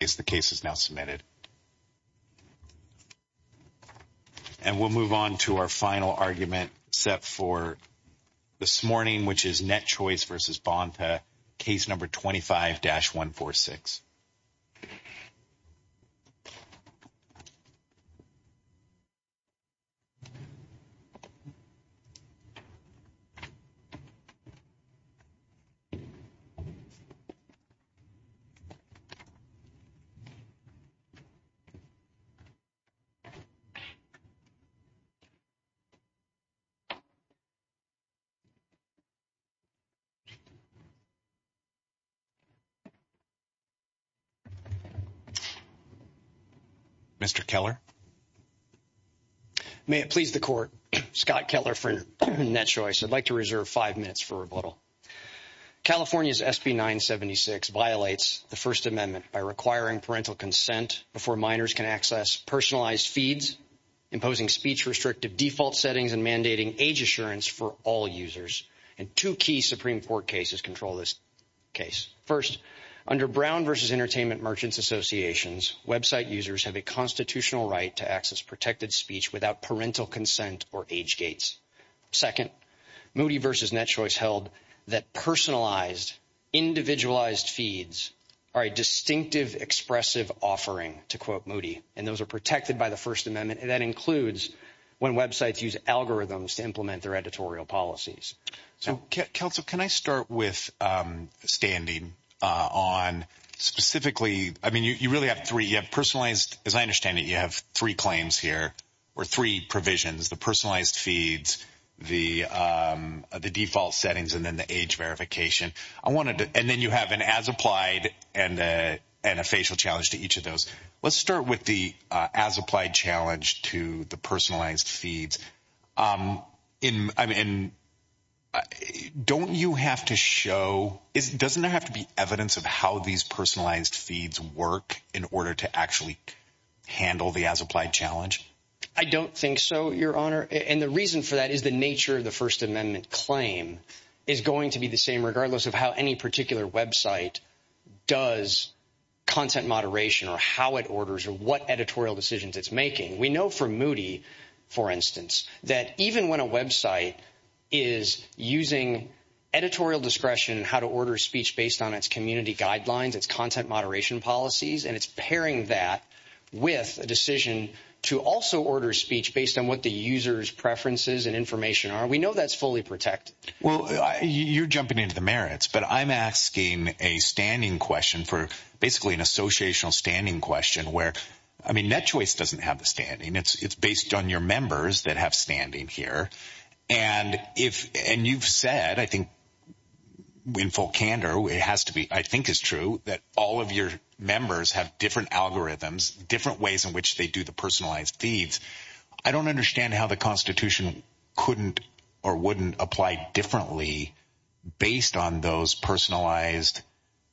is the case is now submitted. And we'll move on to our final argument set for this morning which is NetChoice v. Bonta, Case No. 25-146. Mr. Keller. May it please the Court, Scott Keller for NetChoice. I'd like to reserve five minutes for rebuttal. California's SB 976 violates the First Amendment by requiring parental consent before minors can access personalized feeds, imposing speech-restrictive default settings and mandating age assurance for all users. And two key Supreme Court cases control this case. First, under Brown v. Entertainment Merchants Associations, website users have a constitutional right to access protected speech without parental consent or age gates. Second, Moody v. NetChoice held that personalized, individualized feeds are a distinctive, expressive offering, to quote Moody. And those are protected by the First Amendment, and that includes when websites use algorithms to implement their editorial policies. So, counsel, can I start with standing on specifically, I mean, you really have three, you have personalized, as I understand it, you have three claims here or three provisions, the personalized feeds, the default settings and then the age verification. I wanted to, and then you have an as applied and a facial challenge to each of those. Let's start with the as applied challenge to the personalized feeds. I mean, don't you have to show, doesn't there have to be evidence of how these personalized feeds work in order to actually handle the as applied challenge? I don't think so, Your Honor. And the reason for that is the nature of the First Amendment claim is going to be the same, regardless of how any particular website does content moderation or how it orders or what editorial decisions it's making. We know from Moody, for instance, that even when a website is using editorial discretion, how to order speech based on its community guidelines, its content moderation policies, and it's pairing that with a decision to also order speech based on what the user's preferences and information are. We know that's fully protected. Well, you're jumping into the merits, but I'm asking a standing question for basically an associational standing question where, I mean, NetChoice doesn't have the standing. It's based on your members that have standing here. And you've said, I think in full candor, it has to be, I think is true, that all of your members have different algorithms, different ways in which they do the personalized feeds. I don't understand how the Constitution couldn't or wouldn't apply differently based on those personalized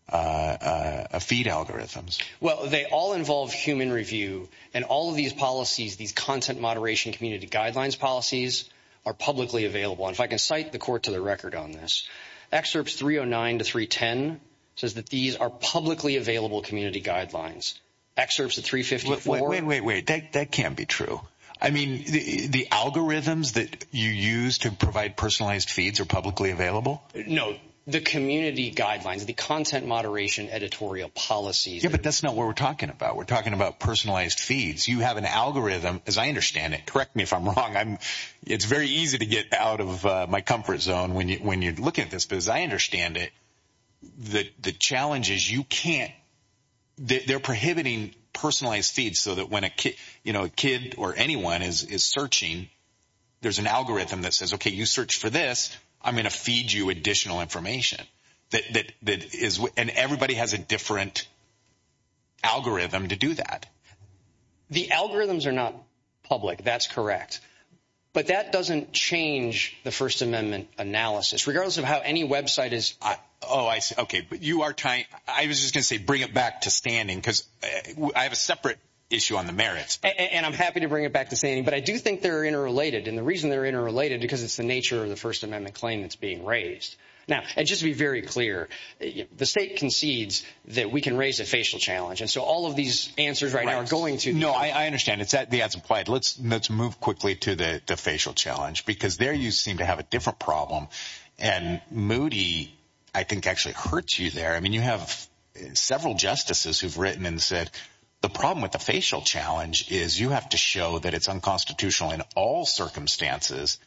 feed algorithms. Well, they all involve human review. And all of these policies, these content moderation community guidelines policies, are publicly available. And if I can cite the court to the record on this, Excerpts 309 to 310 says that these are publicly available community guidelines. Excerpts of 354. Wait, wait, wait. That can't be true. I mean, the algorithms that you use to provide personalized feeds are publicly available? No, the community guidelines, the content moderation editorial policies. Yeah, but that's not what we're talking about. We're talking about personalized feeds. You have an algorithm, as I understand it, correct me if I'm wrong, it's very easy to get out of my comfort zone when you're looking at this. But as I understand it, the challenge is you can't, they're prohibiting personalized feeds so that when a kid or anyone is searching, there's an algorithm that says, okay, you search for this, I'm going to feed you additional information. And everybody has a different algorithm to do that. The algorithms are not public. That's correct. But that doesn't change the First Amendment analysis, regardless of how any website is. Oh, I see. Okay, but you are trying, I was just going to say, bring it back to standing, because I have a separate issue on the merits. And I'm happy to bring it back to standing, but I do think they're interrelated. And the reason they're interrelated, because it's the nature of the First Amendment claim that's being raised. Now, and just to be very clear, the state concedes that we can raise a facial challenge. And so all of these answers right now are going to that. No, I understand. That's implied. Let's move quickly to the facial challenge, because there you seem to have a different problem. And Moody, I think, actually hurts you there. I mean, you have several justices who've written and said the problem with the facial challenge is you have to show that it's unconstitutional in all circumstances.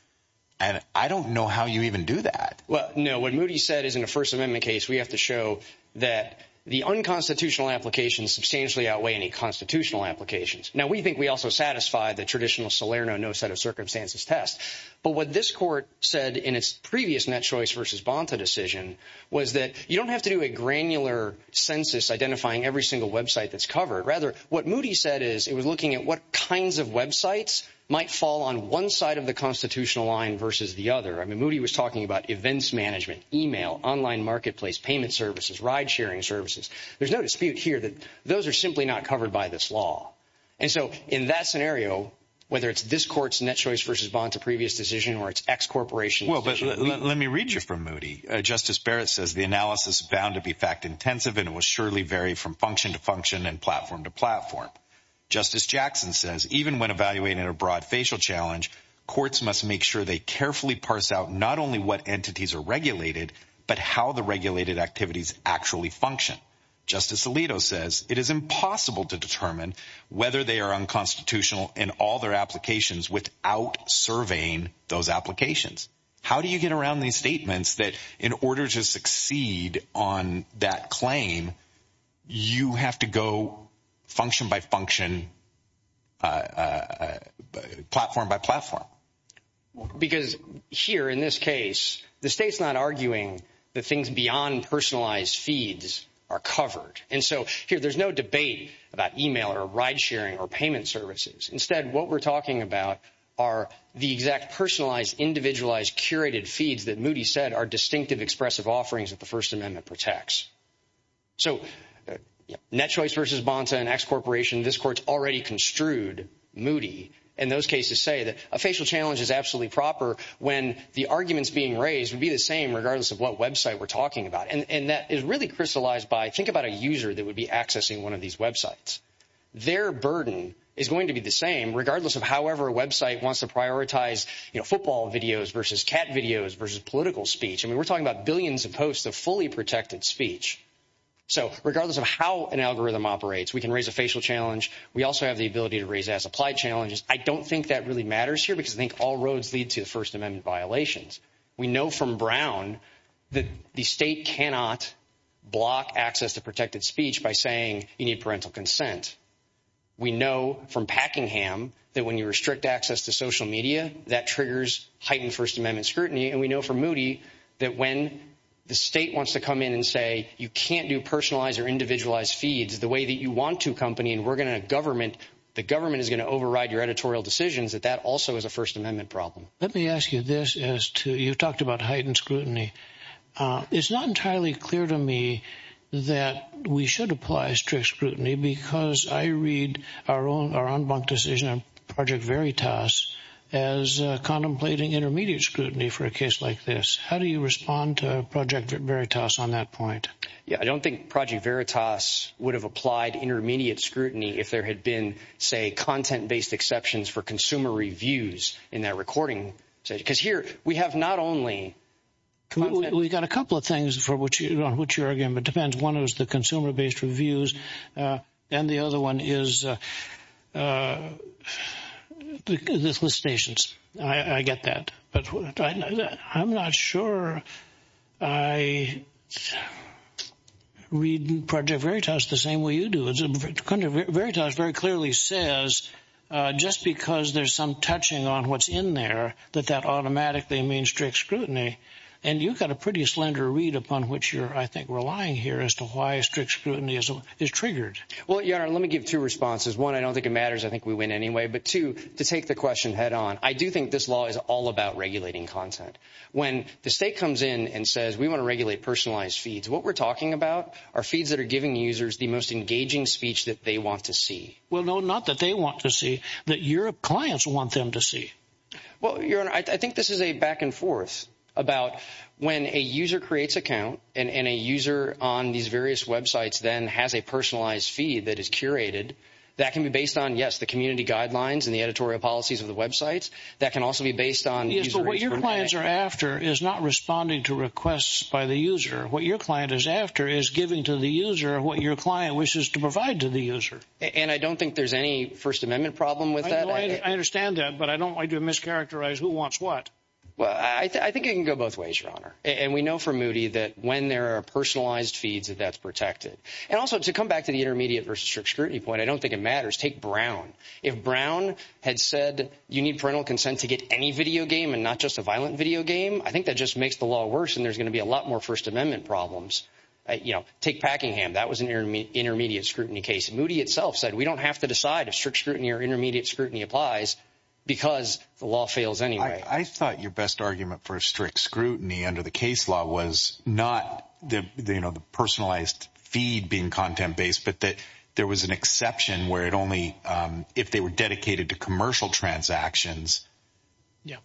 And I don't know how you even do that. Well, no, what Moody said is in a First Amendment case, we have to show that the unconstitutional applications substantially outweigh any constitutional applications. Now, we think we also satisfy the traditional Salerno no-set-of-circumstances test. But what this court said in its previous Net Choice v. Bonta decision was that you don't have to do a granular census identifying every single website that's covered. Rather, what Moody said is it was looking at what kinds of websites might fall on one side of the constitutional line versus the other. I mean, Moody was talking about events management, e-mail, online marketplace, payment services, ride-sharing services. There's no dispute here that those are simply not covered by this law. And so in that scenario, whether it's this court's Net Choice v. Bonta previous decision or its ex-corporation decision. Well, but let me read you from Moody. Justice Barrett says the analysis is bound to be fact-intensive, and it will surely vary from function to function and platform to platform. Justice Jackson says even when evaluating a broad facial challenge, courts must make sure they carefully parse out not only what entities are regulated, but how the regulated activities actually function. Justice Alito says it is impossible to determine whether they are unconstitutional in all their applications without surveying those applications. How do you get around these statements that in order to succeed on that claim, you have to go function by function, platform by platform? Because here in this case, the state's not arguing that things beyond personalized feeds are covered. And so here there's no debate about e-mail or ride-sharing or payment services. Instead, what we're talking about are the exact personalized, individualized, curated feeds that Moody said are distinctive expressive offerings that the First Amendment protects. So Net Choice v. Bonta and ex-corporation, this court's already construed Moody in those cases say that a facial challenge is absolutely proper when the arguments being raised would be the same regardless of what website we're talking about. And that is really crystallized by think about a user that would be accessing one of these websites. Their burden is going to be the same regardless of however a website wants to prioritize, you know, football videos versus cat videos versus political speech. I mean, we're talking about billions of posts of fully protected speech. So regardless of how an algorithm operates, we can raise a facial challenge. We also have the ability to raise as applied challenges. I don't think that really matters here because I think all roads lead to the First Amendment violations. We know from Brown that the state cannot block access to protected speech by saying you need parental consent. We know from Packingham that when you restrict access to social media, that triggers heightened First Amendment scrutiny. And we know from Moody that when the state wants to come in and say you can't do personalized or individualized feeds the way that you want to, company, and we're going to government, the government is going to override your editorial decisions, that that also is a First Amendment problem. Let me ask you this as to, you've talked about heightened scrutiny. It's not entirely clear to me that we should apply strict scrutiny because I read our own decision on Project Veritas as contemplating intermediate scrutiny for a case like this. How do you respond to Project Veritas on that point? I don't think Project Veritas would have applied intermediate scrutiny if there had been, say, content-based exceptions for consumer reviews in that recording. Because here we have not only – We've got a couple of things on which you're arguing, but it depends. One is the consumer-based reviews, and the other one is the solicitations. I get that, but I'm not sure I read Project Veritas the same way you do. Project Veritas very clearly says just because there's some touching on what's in there that that automatically means strict scrutiny. And you've got a pretty slender read upon which you're, I think, relying here as to why strict scrutiny is triggered. Well, Your Honor, let me give two responses. One, I don't think it matters. I think we win anyway. But two, to take the question head-on, I do think this law is all about regulating content. When the state comes in and says we want to regulate personalized feeds, what we're talking about are feeds that are giving users the most engaging speech that they want to see. Well, no, not that they want to see, that your clients want them to see. Well, Your Honor, I think this is a back-and-forth about when a user creates an account and a user on these various websites then has a personalized feed that is curated. That can be based on, yes, the community guidelines and the editorial policies of the websites. That can also be based on user information. Yes, but what your clients are after is not responding to requests by the user. What your client is after is giving to the user what your client wishes to provide to the user. And I don't think there's any First Amendment problem with that. I understand that, but I don't like to mischaracterize who wants what. Well, I think it can go both ways, Your Honor. And we know from Moody that when there are personalized feeds, that that's protected. And also, to come back to the intermediate versus strict scrutiny point, I don't think it matters. Take Brown. If Brown had said you need parental consent to get any video game and not just a violent video game, I think that just makes the law worse and there's going to be a lot more First Amendment problems. Take Packingham. That was an intermediate scrutiny case. Moody itself said we don't have to decide if strict scrutiny or intermediate scrutiny applies because the law fails anyway. I thought your best argument for a strict scrutiny under the case law was not, you know, the personalized feed being content-based, but that there was an exception where it only if they were dedicated to commercial transactions. Yeah.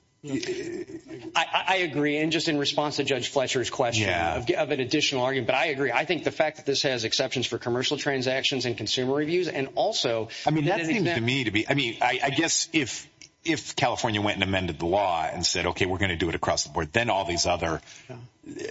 I agree. And just in response to Judge Fletcher's question of an additional argument, but I agree. I think the fact that this has exceptions for commercial transactions and consumer reviews and also— I mean, that seems to me to be— I mean, I guess if California went and amended the law and said, okay, we're going to do it across the board, then all these other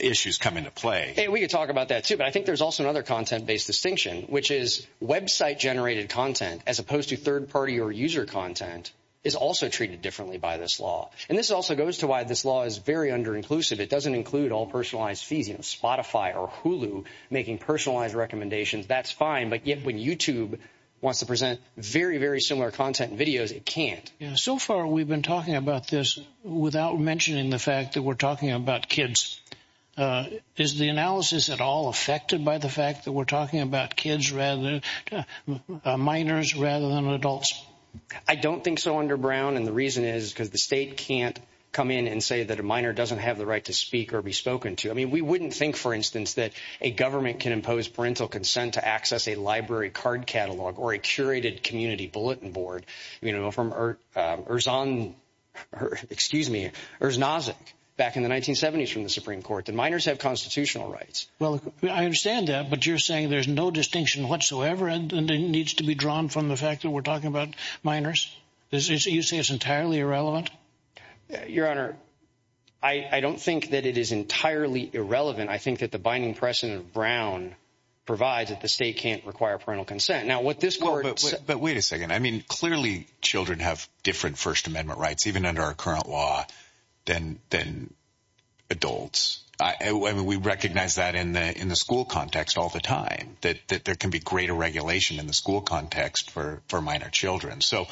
issues come into play. Yeah, we could talk about that, too. But I think there's also another content-based distinction, which is website-generated content as opposed to third-party or user content is also treated differently by this law. And this also goes to why this law is very under-inclusive. It doesn't include all personalized feeds, you know, Spotify or Hulu making personalized recommendations. That's fine. But yet when YouTube wants to present very, very similar content and videos, it can't. So far we've been talking about this without mentioning the fact that we're talking about kids. Is the analysis at all affected by the fact that we're talking about kids rather—minors rather than adults? I don't think so, Under Brown. And the reason is because the state can't come in and say that a minor doesn't have the right to speak or be spoken to. I mean, we wouldn't think, for instance, that a government can impose parental consent to access a library card catalog or a curated community bulletin board. You know, from Erzon—excuse me, Erznozik back in the 1970s from the Supreme Court, that minors have constitutional rights. Well, I understand that, but you're saying there's no distinction whatsoever and it needs to be drawn from the fact that we're talking about minors? You say it's entirely irrelevant? Your Honor, I don't think that it is entirely irrelevant. I think that the binding precedent of Brown provides that the state can't require parental consent. Now, what this court— But wait a second. I mean, clearly children have different First Amendment rights, even under our current law, than adults. I mean, we recognize that in the school context all the time, that there can be greater regulation in the school context for minor children. So,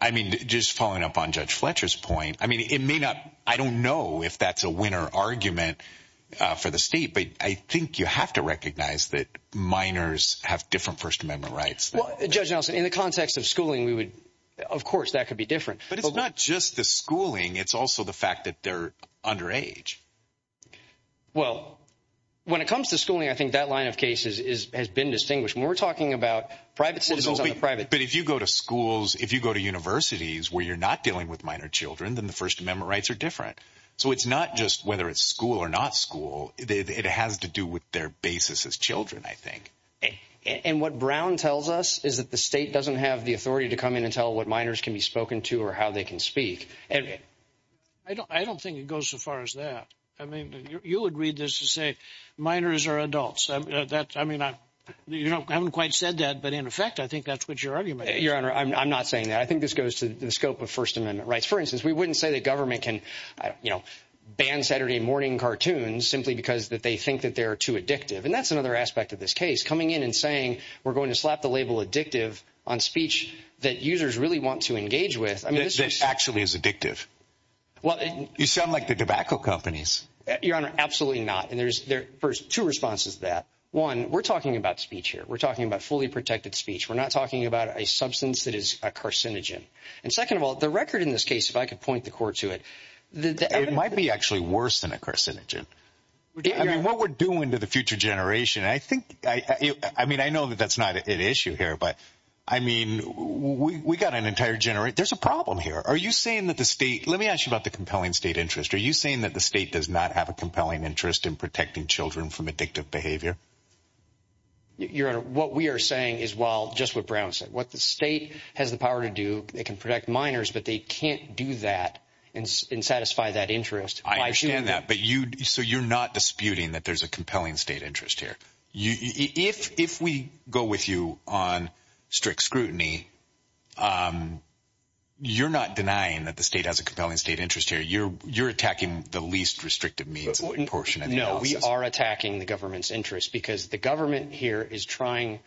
I mean, just following up on Judge Fletcher's point, I mean, it may not—I don't know if that's a winner argument for the state. But I think you have to recognize that minors have different First Amendment rights. Well, Judge Nelson, in the context of schooling, we would—of course that could be different. But it's not just the schooling. It's also the fact that they're underage. Well, when it comes to schooling, I think that line of case has been distinguished. We're talking about private citizens on the private— But if you go to schools, if you go to universities where you're not dealing with minor children, then the First Amendment rights are different. So it's not just whether it's school or not school. It has to do with their basis as children, I think. And what Brown tells us is that the state doesn't have the authority to come in and tell what minors can be spoken to or how they can speak. I don't think it goes so far as that. I mean, you would read this to say minors are adults. I mean, I haven't quite said that, but in effect, I think that's what your argument is. Your Honor, I'm not saying that. I think this goes to the scope of First Amendment rights. For instance, we wouldn't say that government can ban Saturday morning cartoons simply because they think that they're too addictive. And that's another aspect of this case. Coming in and saying we're going to slap the label addictive on speech that users really want to engage with— That actually is addictive. You sound like the tobacco companies. Your Honor, absolutely not. And there's two responses to that. One, we're talking about speech here. We're talking about fully protected speech. We're not talking about a substance that is a carcinogen. And second of all, the record in this case, if I could point the court to it— It might be actually worse than a carcinogen. I mean, what we're doing to the future generation, I think—I mean, I know that that's not at issue here, but, I mean, we got an entire— There's a problem here. Are you saying that the state—let me ask you about the compelling state interest. Are you saying that the state does not have a compelling interest in protecting children from addictive behavior? Your Honor, what we are saying is, well, just what Brown said. What the state has the power to do, it can protect minors, but they can't do that and satisfy that interest. I understand that, but you—so you're not disputing that there's a compelling state interest here. If we go with you on strict scrutiny, you're not denying that the state has a compelling state interest here. You're attacking the least restrictive means portion of the analysis. No, we are attacking the government's interest because the government here is trying—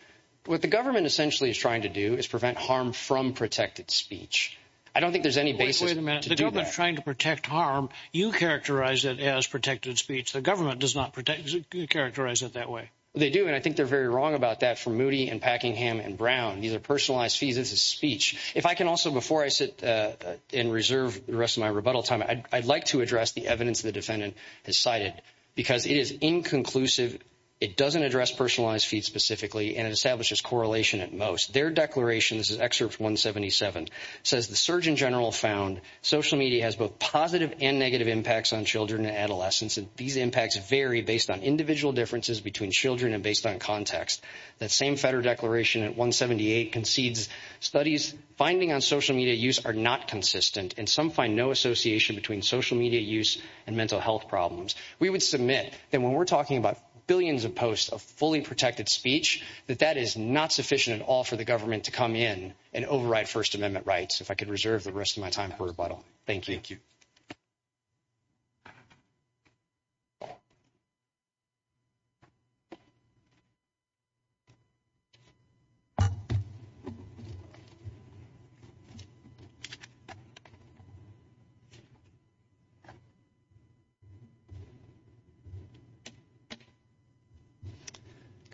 what the government essentially is trying to do is prevent harm from protected speech. I don't think there's any basis to do that. Wait a minute. The government's trying to protect harm. You characterize it as protected speech. The government does not characterize it that way. They do, and I think they're very wrong about that for Moody and Packingham and Brown. These are personalized fees. This is speech. If I can also, before I sit and reserve the rest of my rebuttal time, I'd like to address the evidence the defendant has cited because it is inconclusive. It doesn't address personalized fees specifically, and it establishes correlation at most. Their declaration, this is Excerpt 177, says, The Surgeon General found social media has both positive and negative impacts on children and adolescents, and these impacts vary based on individual differences between children and based on context. That same Fetter declaration at 178 concedes studies finding on social media use are not consistent, and some find no association between social media use and mental health problems. We would submit that when we're talking about billions of posts of fully protected speech, that that is not sufficient at all for the government to come in and override First Amendment rights. If I could reserve the rest of my time for rebuttal. Thank you.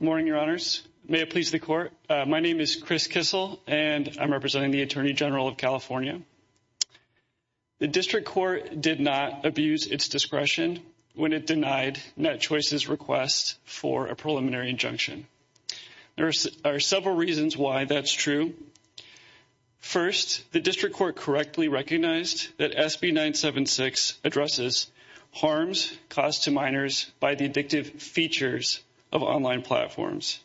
Good morning, Your Honors. May it please the court. My name is Chris Kissel, and I'm representing the attorney general of California. The district court did not abuse its discretion when it denied NetChoice's request for a preliminary injunction. There are several reasons why that's true. First, the district court correctly recognized that SB 976 addresses harms caused to minors by the addictive features of online platforms.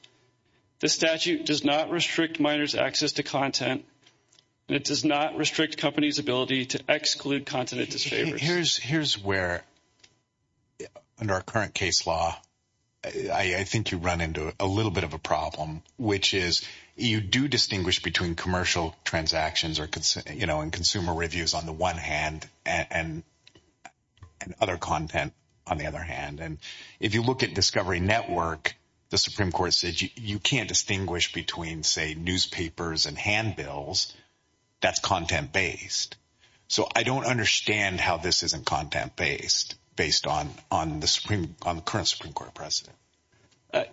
This statute does not restrict minors' access to content, and it does not restrict companies' ability to exclude content that disfavors. Here's where, under our current case law, I think you run into a little bit of a problem, which is you do distinguish between commercial transactions and consumer reviews on the one hand and other content on the other hand. And if you look at Discovery Network, the Supreme Court said you can't distinguish between, say, newspapers and handbills. That's content-based. So I don't understand how this isn't content-based based on the current Supreme Court precedent.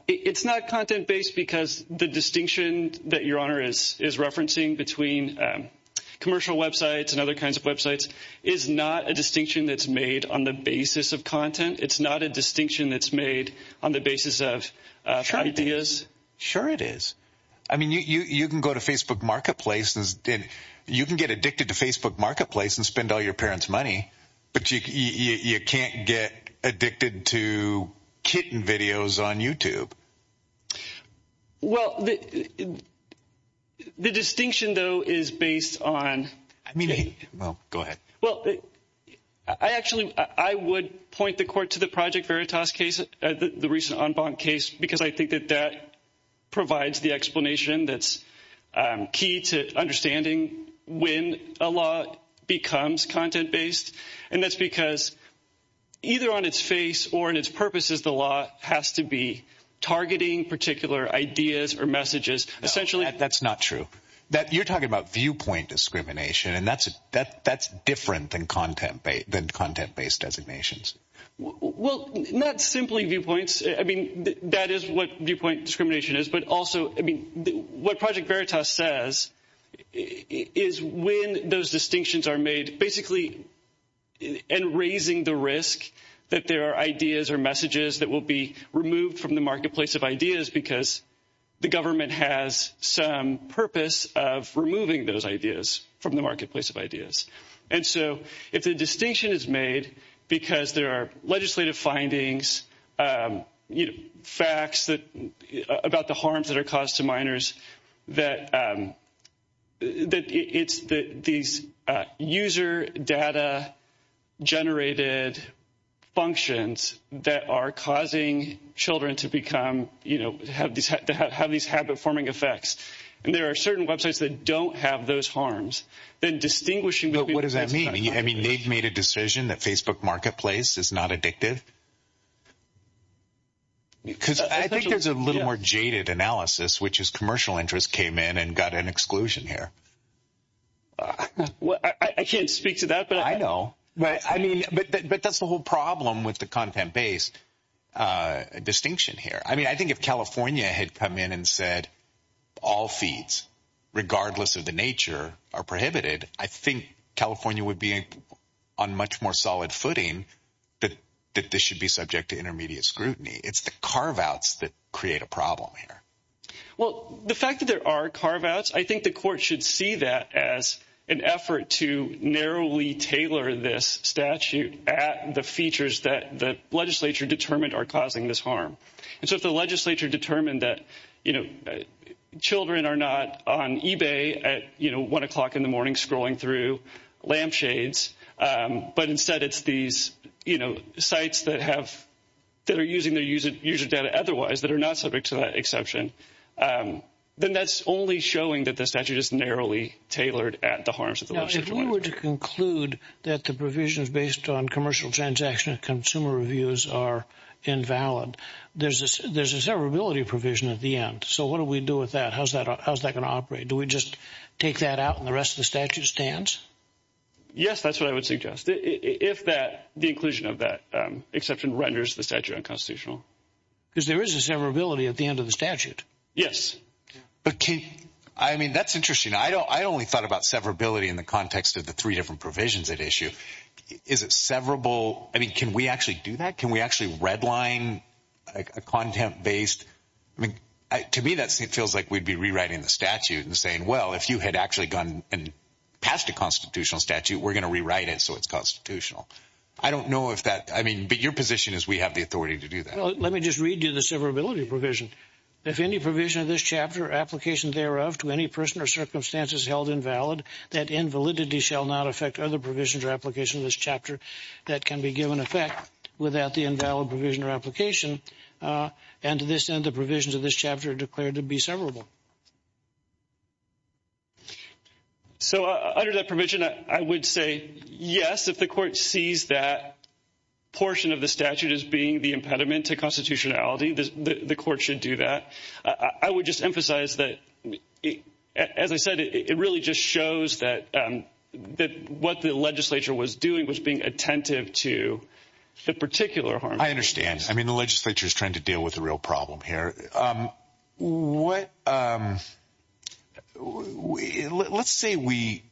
It's not content-based because the distinction that Your Honor is referencing between commercial websites and other kinds of websites is not a distinction that's made on the basis of content. It's not a distinction that's made on the basis of ideas. Sure it is. I mean, you can go to Facebook Marketplace and you can get addicted to Facebook Marketplace and spend all your parents' money, but you can't get addicted to kitten videos on YouTube. Well, the distinction, though, is based on – Well, go ahead. Well, I actually – I would point the court to the Project Veritas case, the recent en banc case, because I think that that provides the explanation that's key to understanding when a law becomes content-based. And that's because either on its face or in its purposes, the law has to be targeting particular ideas or messages. No, that's not true. You're talking about viewpoint discrimination, and that's different than content-based designations. Well, not simply viewpoints. I mean, that is what viewpoint discrimination is. But also, I mean, what Project Veritas says is when those distinctions are made, basically in raising the risk that there are ideas or messages that will be removed from the marketplace of ideas because the government has some purpose of removing those ideas from the marketplace of ideas. And so if the distinction is made because there are legislative findings, facts about the harms that are caused to minors, that it's these user data-generated functions that are causing children to become – to have these habit-forming effects. And there are certain websites that don't have those harms. Then distinguishing between – But what does that mean? I mean, they've made a decision that Facebook marketplace is not addictive? Because I think there's a little more jaded analysis, which is commercial interest came in and got an exclusion here. I can't speak to that. I know. But I mean – but that's the whole problem with the content-based distinction here. I mean, I think if California had come in and said all feeds, regardless of the nature, are prohibited, I think California would be on much more solid footing that this should be subject to intermediate scrutiny. It's the carve-outs that create a problem here. Well, the fact that there are carve-outs, I think the court should see that as an effort to narrowly tailor this statute at the features that the legislature determined are causing this harm. And so if the legislature determined that children are not on eBay at 1 o'clock in the morning scrolling through lampshades, but instead it's these sites that have – that are using their user data otherwise that are not subject to that exception, then that's only showing that the statute is narrowly tailored at the harms of the website. If we were to conclude that the provisions based on commercial transaction and consumer reviews are invalid, there's a severability provision at the end. So what do we do with that? How's that going to operate? Do we just take that out and the rest of the statute stands? Yes, that's what I would suggest, if that – the inclusion of that exception renders the statute unconstitutional. Because there is a severability at the end of the statute. Yes. But can – I mean, that's interesting. I only thought about severability in the context of the three different provisions at issue. Is it severable – I mean, can we actually do that? Can we actually redline a content-based – I mean, to me that feels like we'd be rewriting the statute and saying, well, if you had actually gone past a constitutional statute, we're going to rewrite it so it's constitutional. I don't know if that – I mean, but your position is we have the authority to do that. Well, let me just read you the severability provision. If any provision of this chapter or application thereof to any person or circumstance is held invalid, that invalidity shall not affect other provisions or applications of this chapter that can be given effect without the invalid provision or application. And to this end, the provisions of this chapter are declared to be severable. So under that provision, I would say yes. If the Court sees that portion of the statute as being the impediment to constitutionality, the Court should do that. I would just emphasize that, as I said, it really just shows that what the legislature was doing was being attentive to the particular harm. I understand. I mean, the legislature is trying to deal with a real problem here. What – let's say we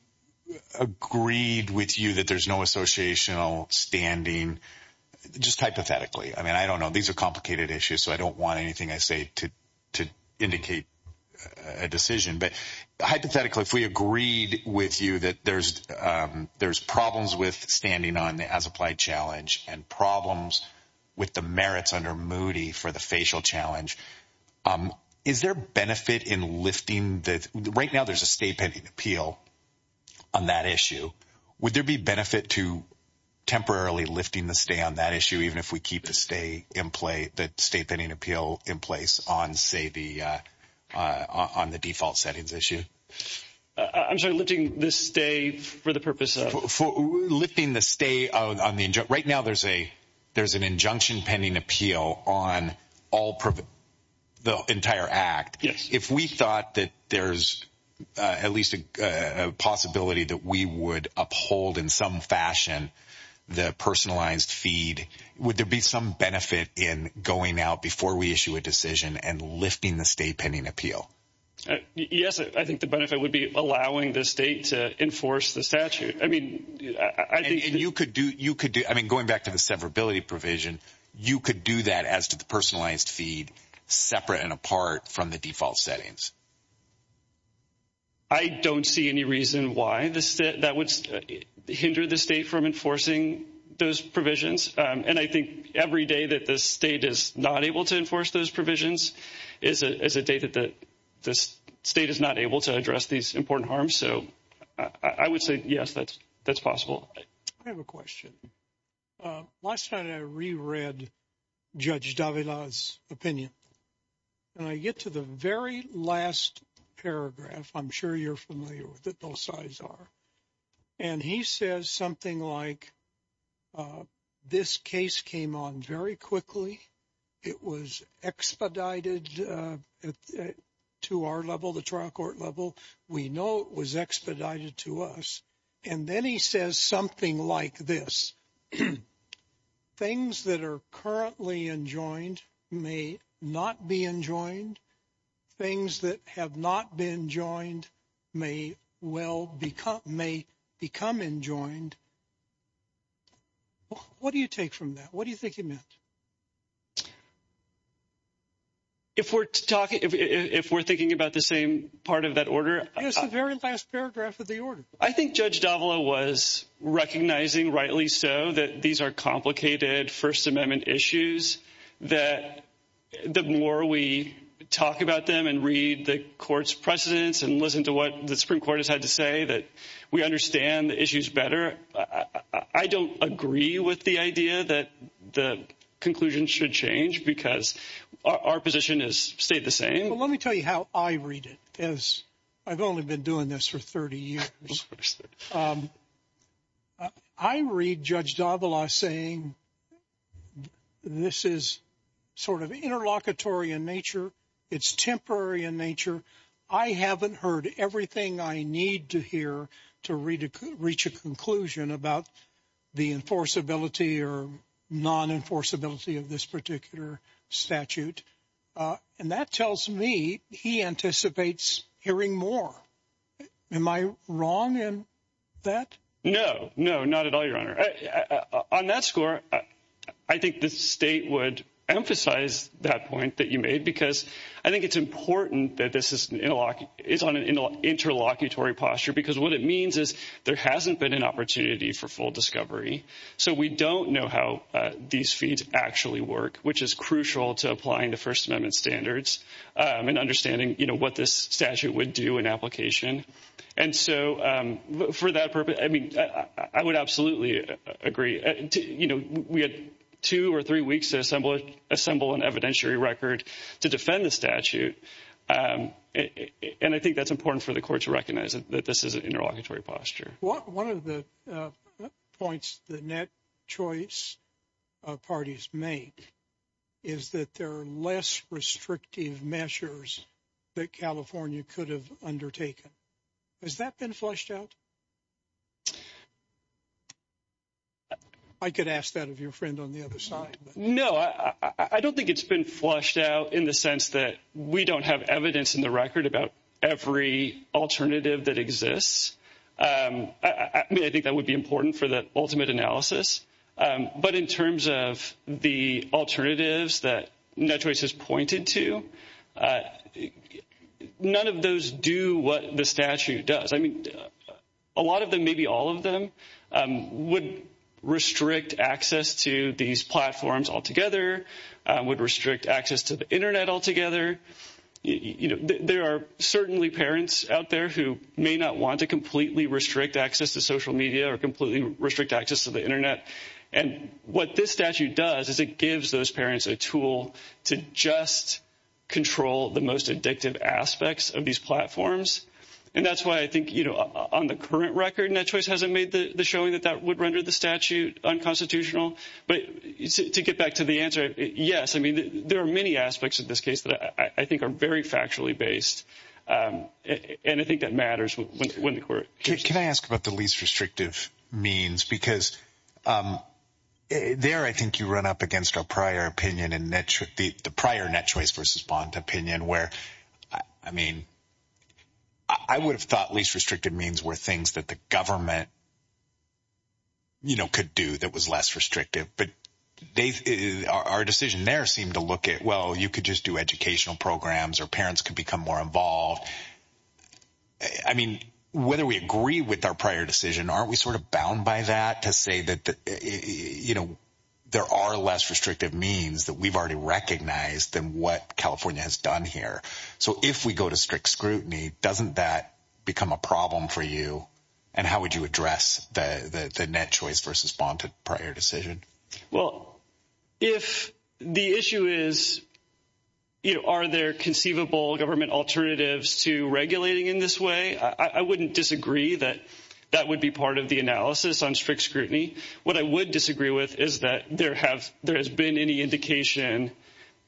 agreed with you that there's no associational standing, just hypothetically. I mean, I don't know. These are complicated issues, so I don't want anything I say to indicate a decision. But hypothetically, if we agreed with you that there's problems with standing on the as-applied challenge and problems with the merits under Moody for the facial challenge, is there benefit in lifting the – right now there's a stay pending appeal on that issue. Would there be benefit to temporarily lifting the stay on that issue, even if we keep the stay in – the stay pending appeal in place on, say, the – on the default settings issue? I'm sorry. Lifting the stay for the purpose of – Lifting the stay on the – right now there's an injunction pending appeal on all – the entire act. Yes. If we thought that there's at least a possibility that we would uphold in some fashion the personalized feed, would there be some benefit in going out before we issue a decision and lifting the stay pending appeal? Yes, I think the benefit would be allowing the state to enforce the statute. I mean, I think – And you could do – you could do – I mean, going back to the severability provision, you could do that as to the personalized feed separate and apart from the default settings. I don't see any reason why that would hinder the state from enforcing those provisions. And I think every day that the state is not able to enforce those provisions is a day that the state is not able to address these important harms. So I would say, yes, that's possible. I have a question. Last night I reread Judge Davila's opinion. And I get to the very last paragraph. I'm sure you're familiar with it. Those sides are. And he says something like, this case came on very quickly. It was expedited to our level, the trial court level. We know it was expedited to us. And then he says something like this. Things that are currently enjoined may not be enjoined. Things that have not been joined may well become – may become enjoined. What do you take from that? What do you think he meant? If we're talking – if we're thinking about the same part of that order. It's the very last paragraph of the order. I think Judge Davila was recognizing, rightly so, that these are complicated First Amendment issues. That the more we talk about them and read the court's precedents and listen to what the Supreme Court has had to say, that we understand the issues better. I don't agree with the idea that the conclusion should change because our position has stayed the same. Well, let me tell you how I read it, as I've only been doing this for 30 years. I read Judge Davila saying this is sort of interlocutory in nature. It's temporary in nature. I haven't heard everything I need to hear to reach a conclusion about the enforceability or non-enforceability of this particular statute. And that tells me he anticipates hearing more. Am I wrong in that? No, no, not at all, Your Honor. On that score, I think the state would emphasize that point that you made because I think it's important that this is on an interlocutory posture. Because what it means is there hasn't been an opportunity for full discovery. So we don't know how these feats actually work, which is crucial to applying the First Amendment standards and understanding what this statute would do in application. And so for that purpose, I mean, I would absolutely agree. You know, we had two or three weeks to assemble an evidentiary record to defend the statute. And I think that's important for the court to recognize that this is an interlocutory posture. One of the points the net choice parties make is that there are less restrictive measures that California could have undertaken. Has that been flushed out? I could ask that of your friend on the other side. No, I don't think it's been flushed out in the sense that we don't have evidence in the record about every alternative that exists. I think that would be important for the ultimate analysis. But in terms of the alternatives that no choice is pointed to, none of those do what the statute does. I mean, a lot of them, maybe all of them would restrict access to these platforms altogether, would restrict access to the Internet altogether. You know, there are certainly parents out there who may not want to completely restrict access to social media or completely restrict access to the Internet. And what this statute does is it gives those parents a tool to just control the most addictive aspects of these platforms. And that's why I think, you know, on the current record, net choice hasn't made the showing that that would render the statute unconstitutional. But to get back to the answer, yes, I mean, there are many aspects of this case that I think are very factually based. And I think that matters when the court. Can I ask about the least restrictive means? Because there, I think you run up against our prior opinion and the prior net choice versus bond opinion where, I mean, I would have thought least restrictive means were things that the government. You know, could do that was less restrictive, but our decision there seemed to look at, well, you could just do educational programs or parents could become more involved. I mean, whether we agree with our prior decision, aren't we sort of bound by that to say that, you know, there are less restrictive means that we've already recognized than what California has done here? So if we go to strict scrutiny, doesn't that become a problem for you? And how would you address the net choice versus bonded prior decision? Well, if the issue is. You know, are there conceivable government alternatives to regulating in this way? I wouldn't disagree that that would be part of the analysis on strict scrutiny. What I would disagree with is that there have there has been any indication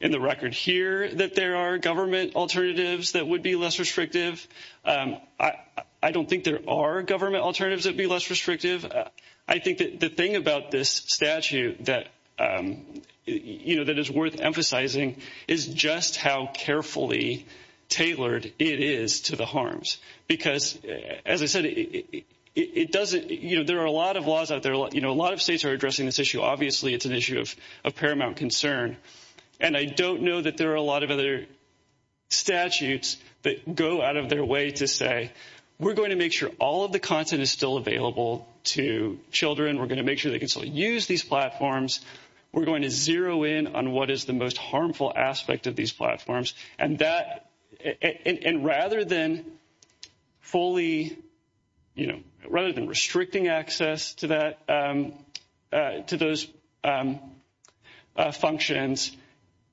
in the record here that there are government alternatives that would be less restrictive. I don't think there are government alternatives that be less restrictive. I think that the thing about this statute that, you know, that is worth emphasizing is just how carefully tailored it is to the harms. Because, as I said, it doesn't you know, there are a lot of laws out there. You know, a lot of states are addressing this issue. Obviously, it's an issue of paramount concern. And I don't know that there are a lot of other statutes that go out of their way to say we're going to make sure all of the content is still available to children. We're going to make sure they can still use these platforms. We're going to zero in on what is the most harmful aspect of these platforms. And that and rather than fully, you know, rather than restricting access to that, to those functions,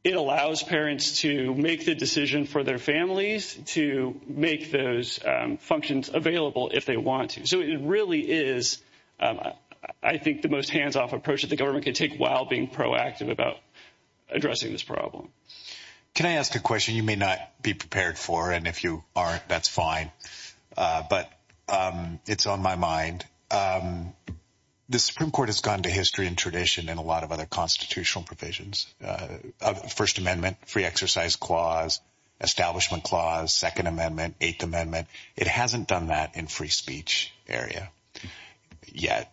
it allows parents to make the decision for their families to make those functions available if they want to. So it really is, I think, the most hands off approach that the government can take while being proactive about addressing this problem. Can I ask a question you may not be prepared for and if you aren't, that's fine. But it's on my mind. The Supreme Court has gone to history and tradition and a lot of other constitutional provisions. First Amendment, free exercise clause, establishment clause, Second Amendment, Eighth Amendment. It hasn't done that in free speech area yet.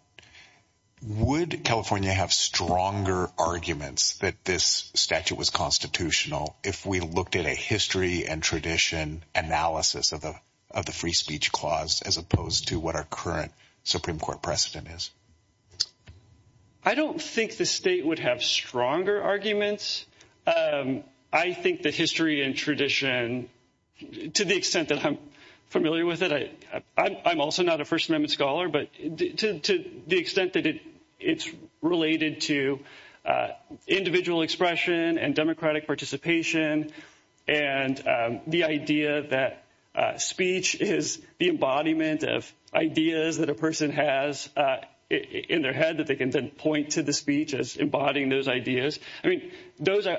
Would California have stronger arguments that this statute was constitutional if we looked at a history and tradition analysis of the of the free speech clause, as opposed to what our current Supreme Court precedent is? I don't think the state would have stronger arguments. I think the history and tradition, to the extent that I'm familiar with it, I'm also not a First Amendment scholar, but to the extent that it's related to individual expression and democratic participation. And the idea that speech is the embodiment of ideas that a person has in their head that they can then point to the speech as embodying those ideas. I mean, those are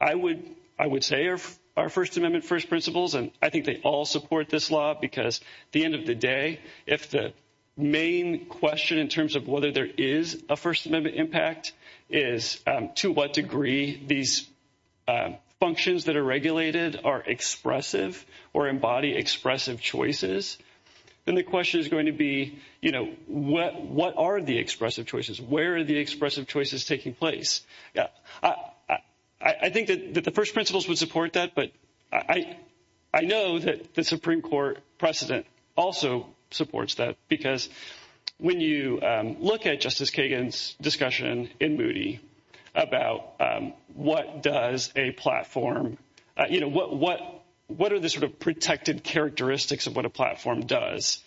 I would I would say are our First Amendment first principles. And I think they all support this law, because the end of the day, if the main question in terms of whether there is a First Amendment impact is to what degree these functions that are regulated are expressive or embody expressive choices. And the question is going to be, you know, what what are the expressive choices? Where are the expressive choices taking place? I think that the first principles would support that. But I, I know that the Supreme Court precedent also supports that, because when you look at Justice Kagan's discussion in Moody about what does a platform. What what are the sort of protected characteristics of what a platform does?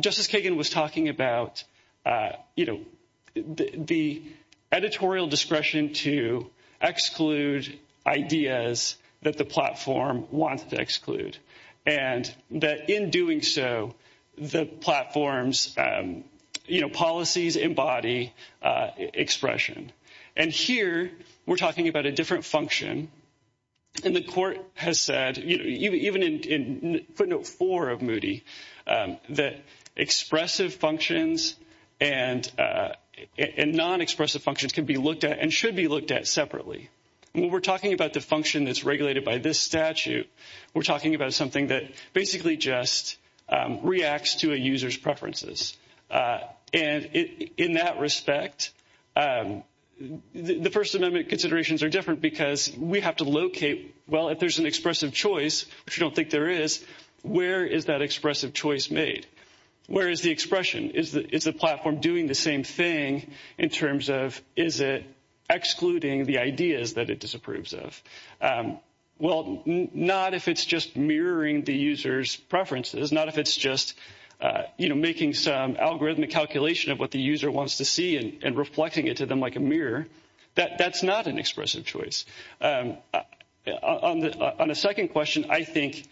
Justice Kagan was talking about, you know, the editorial discretion to exclude ideas that the platform wants to exclude and that in doing so, the platform's policies embody expression. And here we're talking about a different function. And the court has said, even in footnote four of Moody, that expressive functions and non-expressive functions can be looked at and should be looked at separately. When we're talking about the function that's regulated by this statute, we're talking about something that basically just reacts to a user's preferences. And in that respect, the First Amendment considerations are different because we have to locate. Well, if there's an expressive choice, which you don't think there is, where is that expressive choice made? Where is the expression? Is it's a platform doing the same thing in terms of is it excluding the ideas that it disapproves of? Well, not if it's just mirroring the user's preferences, not if it's just making some algorithmic calculation of what the user wants to see and reflecting it to them like a mirror. That's not an expressive choice. On a second question, I think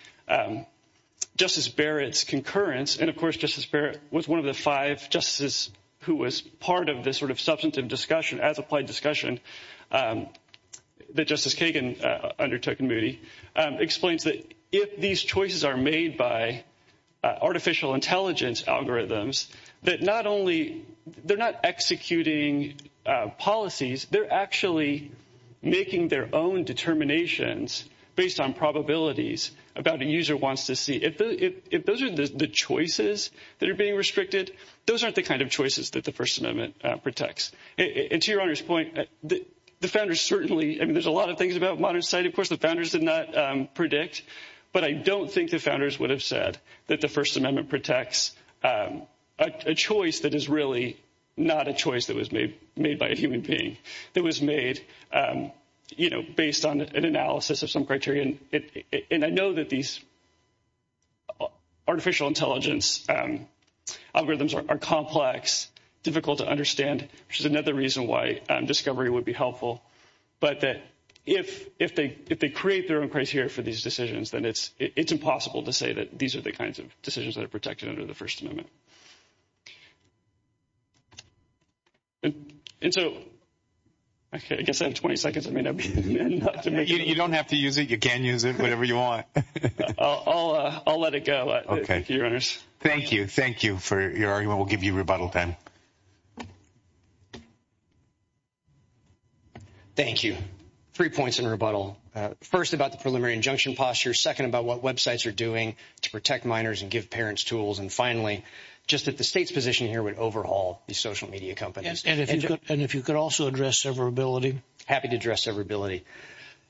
Justice Barrett's concurrence, and of course, Justice Barrett was one of the five justices who was part of this sort of substantive discussion as applied discussion that Justice Kagan undertook in Moody, explains that if these choices are made by artificial intelligence algorithms, that not only they're not executing policies, they're actually making their own determinations based on probabilities about a user wants to see. If those are the choices that are being restricted, those aren't the kind of choices that the First Amendment protects. And to your honor's point, the founders certainly I mean, there's a lot of things about modern society. Of course, the founders did not predict. But I don't think the founders would have said that the First Amendment protects a choice that is really not a choice that was made made by a human being. It was made based on an analysis of some criterion. And I know that these artificial intelligence algorithms are complex, difficult to understand, which is another reason why discovery would be helpful. But that if they create their own criteria for these decisions, then it's impossible to say that these are the kinds of decisions that are protected under the First Amendment. And so I guess in 20 seconds, I mean, you don't have to use it. You can use it whenever you want. I'll I'll let it go. OK. Thank you. Thank you for your argument. We'll give you rebuttal then. Thank you. Three points in rebuttal. First, about the preliminary injunction posture. Second, about what Web sites are doing to protect minors and give parents tools. And finally, just that the state's position here would overhaul the social media companies. And if you could and if you could also address severability. Happy to address severability.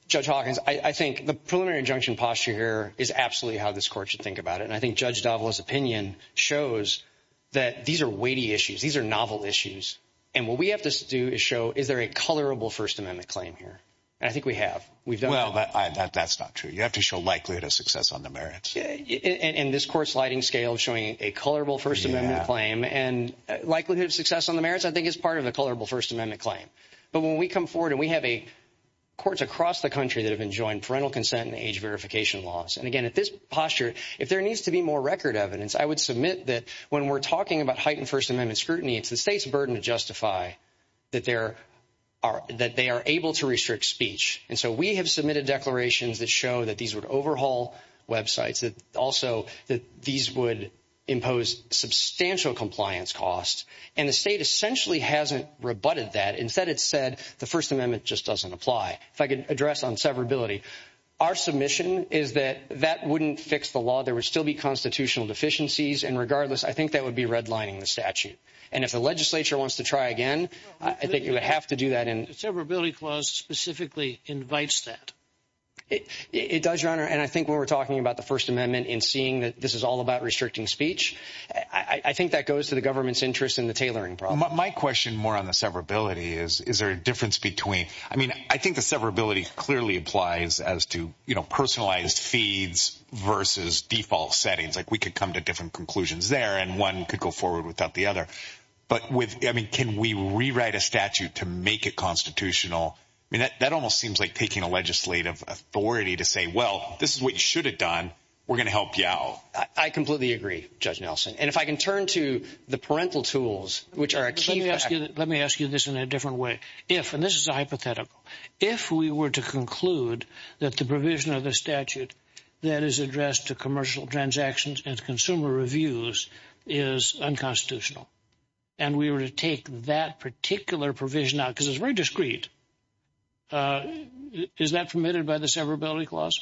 Judge Hawkins, I think the preliminary injunction posture here is absolutely how this court should think about it. And I think Judge Davila's opinion shows that these are weighty issues. These are novel issues. And what we have to do is show is there a colorable First Amendment claim here? I think we have. We've done well, but that's not true. You have to show likelihood of success on the merits. And this court sliding scale showing a colorable First Amendment claim and likelihood of success on the merits, I think, is part of the colorable First Amendment claim. But when we come forward and we have a courts across the country that have been joined parental consent and age verification laws. And again, at this posture, if there needs to be more record evidence, I would submit that when we're talking about heightened First Amendment scrutiny, it's the state's burden to justify that there are that they are able to restrict speech. And so we have submitted declarations that show that these would overhaul Web sites, that also that these would impose substantial compliance costs. And the state essentially hasn't rebutted that. Instead, it said the First Amendment just doesn't apply. If I could address on severability, our submission is that that wouldn't fix the law. There would still be constitutional deficiencies. And regardless, I think that would be redlining the statute. And if the legislature wants to try again, I think you would have to do that in severability clause specifically invites that it does, Your Honor. And I think when we're talking about the First Amendment and seeing that this is all about restricting speech, I think that goes to the government's interest in the tailoring. My question more on the severability is, is there a difference between I mean, I think the severability clearly applies as to, you know, personalized feeds versus default settings. Like we could come to different conclusions there and one could go forward without the other. But with I mean, can we rewrite a statute to make it constitutional? I mean, that almost seems like taking a legislative authority to say, well, this is what you should have done. We're going to help you out. I completely agree, Judge Nelson. And if I can turn to the parental tools, which are a key. Let me ask you this in a different way. If and this is a hypothetical. If we were to conclude that the provision of the statute that is addressed to commercial transactions and consumer reviews is unconstitutional. And we were to take that particular provision now because it's very discreet. Is that permitted by the severability clause?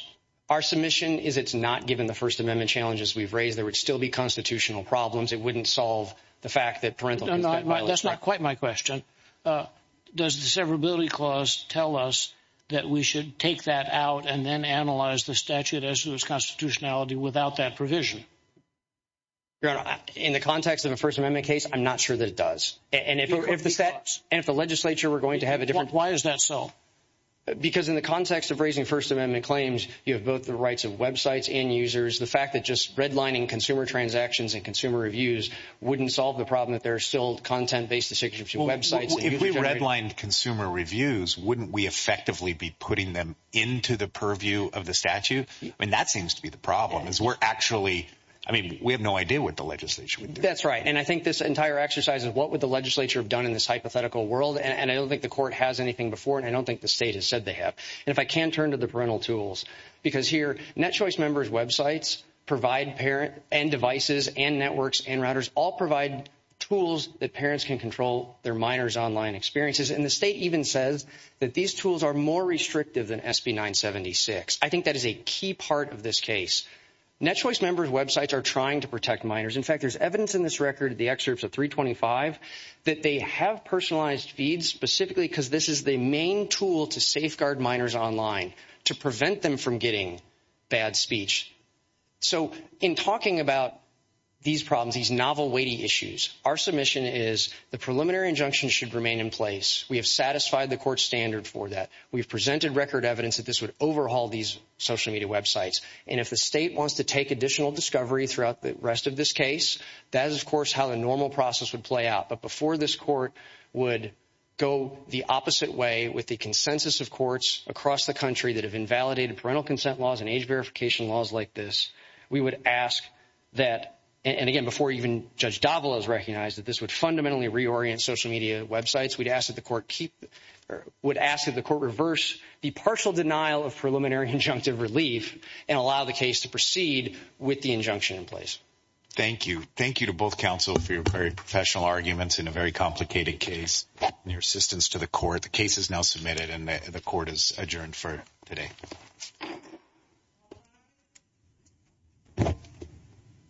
Our submission is it's not. Given the First Amendment challenges we've raised, there would still be constitutional problems. It wouldn't solve the fact that that's not quite my question. Does the severability clause tell us that we should take that out and then analyze the statute as to its constitutionality without that provision? In the context of a First Amendment case, I'm not sure that it does. And if the state and the legislature were going to have a different. Why is that so? Because in the context of raising First Amendment claims, you have both the rights of websites and users. The fact that just redlining consumer transactions and consumer reviews wouldn't solve the problem that they're still content based. The signature websites, if we redlined consumer reviews, wouldn't we effectively be putting them into the purview of the statute? I mean, that seems to be the problem is we're actually I mean, we have no idea what the legislation. That's right. And I think this entire exercise is what would the legislature have done in this hypothetical world? And I don't think the court has anything before. And I don't think the state has said they have. And if I can turn to the parental tools, because here, Net Choice members, websites provide parent and devices and networks and routers all provide tools that parents can control their minors online experiences. And the state even says that these tools are more restrictive than SB 976. I think that is a key part of this case. Net Choice members, websites are trying to protect minors. In fact, there's evidence in this record, the excerpts of 325, that they have personalized feeds specifically because this is the main tool to safeguard minors online to prevent them from getting bad speech. So in talking about these problems, these novel weighty issues, our submission is the preliminary injunction should remain in place. We have satisfied the court standard for that. We've presented record evidence that this would overhaul these social media websites. And if the state wants to take additional discovery throughout the rest of this case, that is, of course, how the normal process would play out. But before this court would go the opposite way with the consensus of courts across the country that have invalidated parental consent laws and age verification laws like this, we would ask that. And again, before even Judge Davila is recognized that this would fundamentally reorient social media websites, we'd ask that the court keep would ask that the court reverse the partial denial of preliminary injunctive relief and allow the case to proceed with the injunction in place. Thank you. Thank you to both counsel for your very professional arguments in a very complicated case. Your assistance to the court. The case is now submitted and the court is adjourned for today.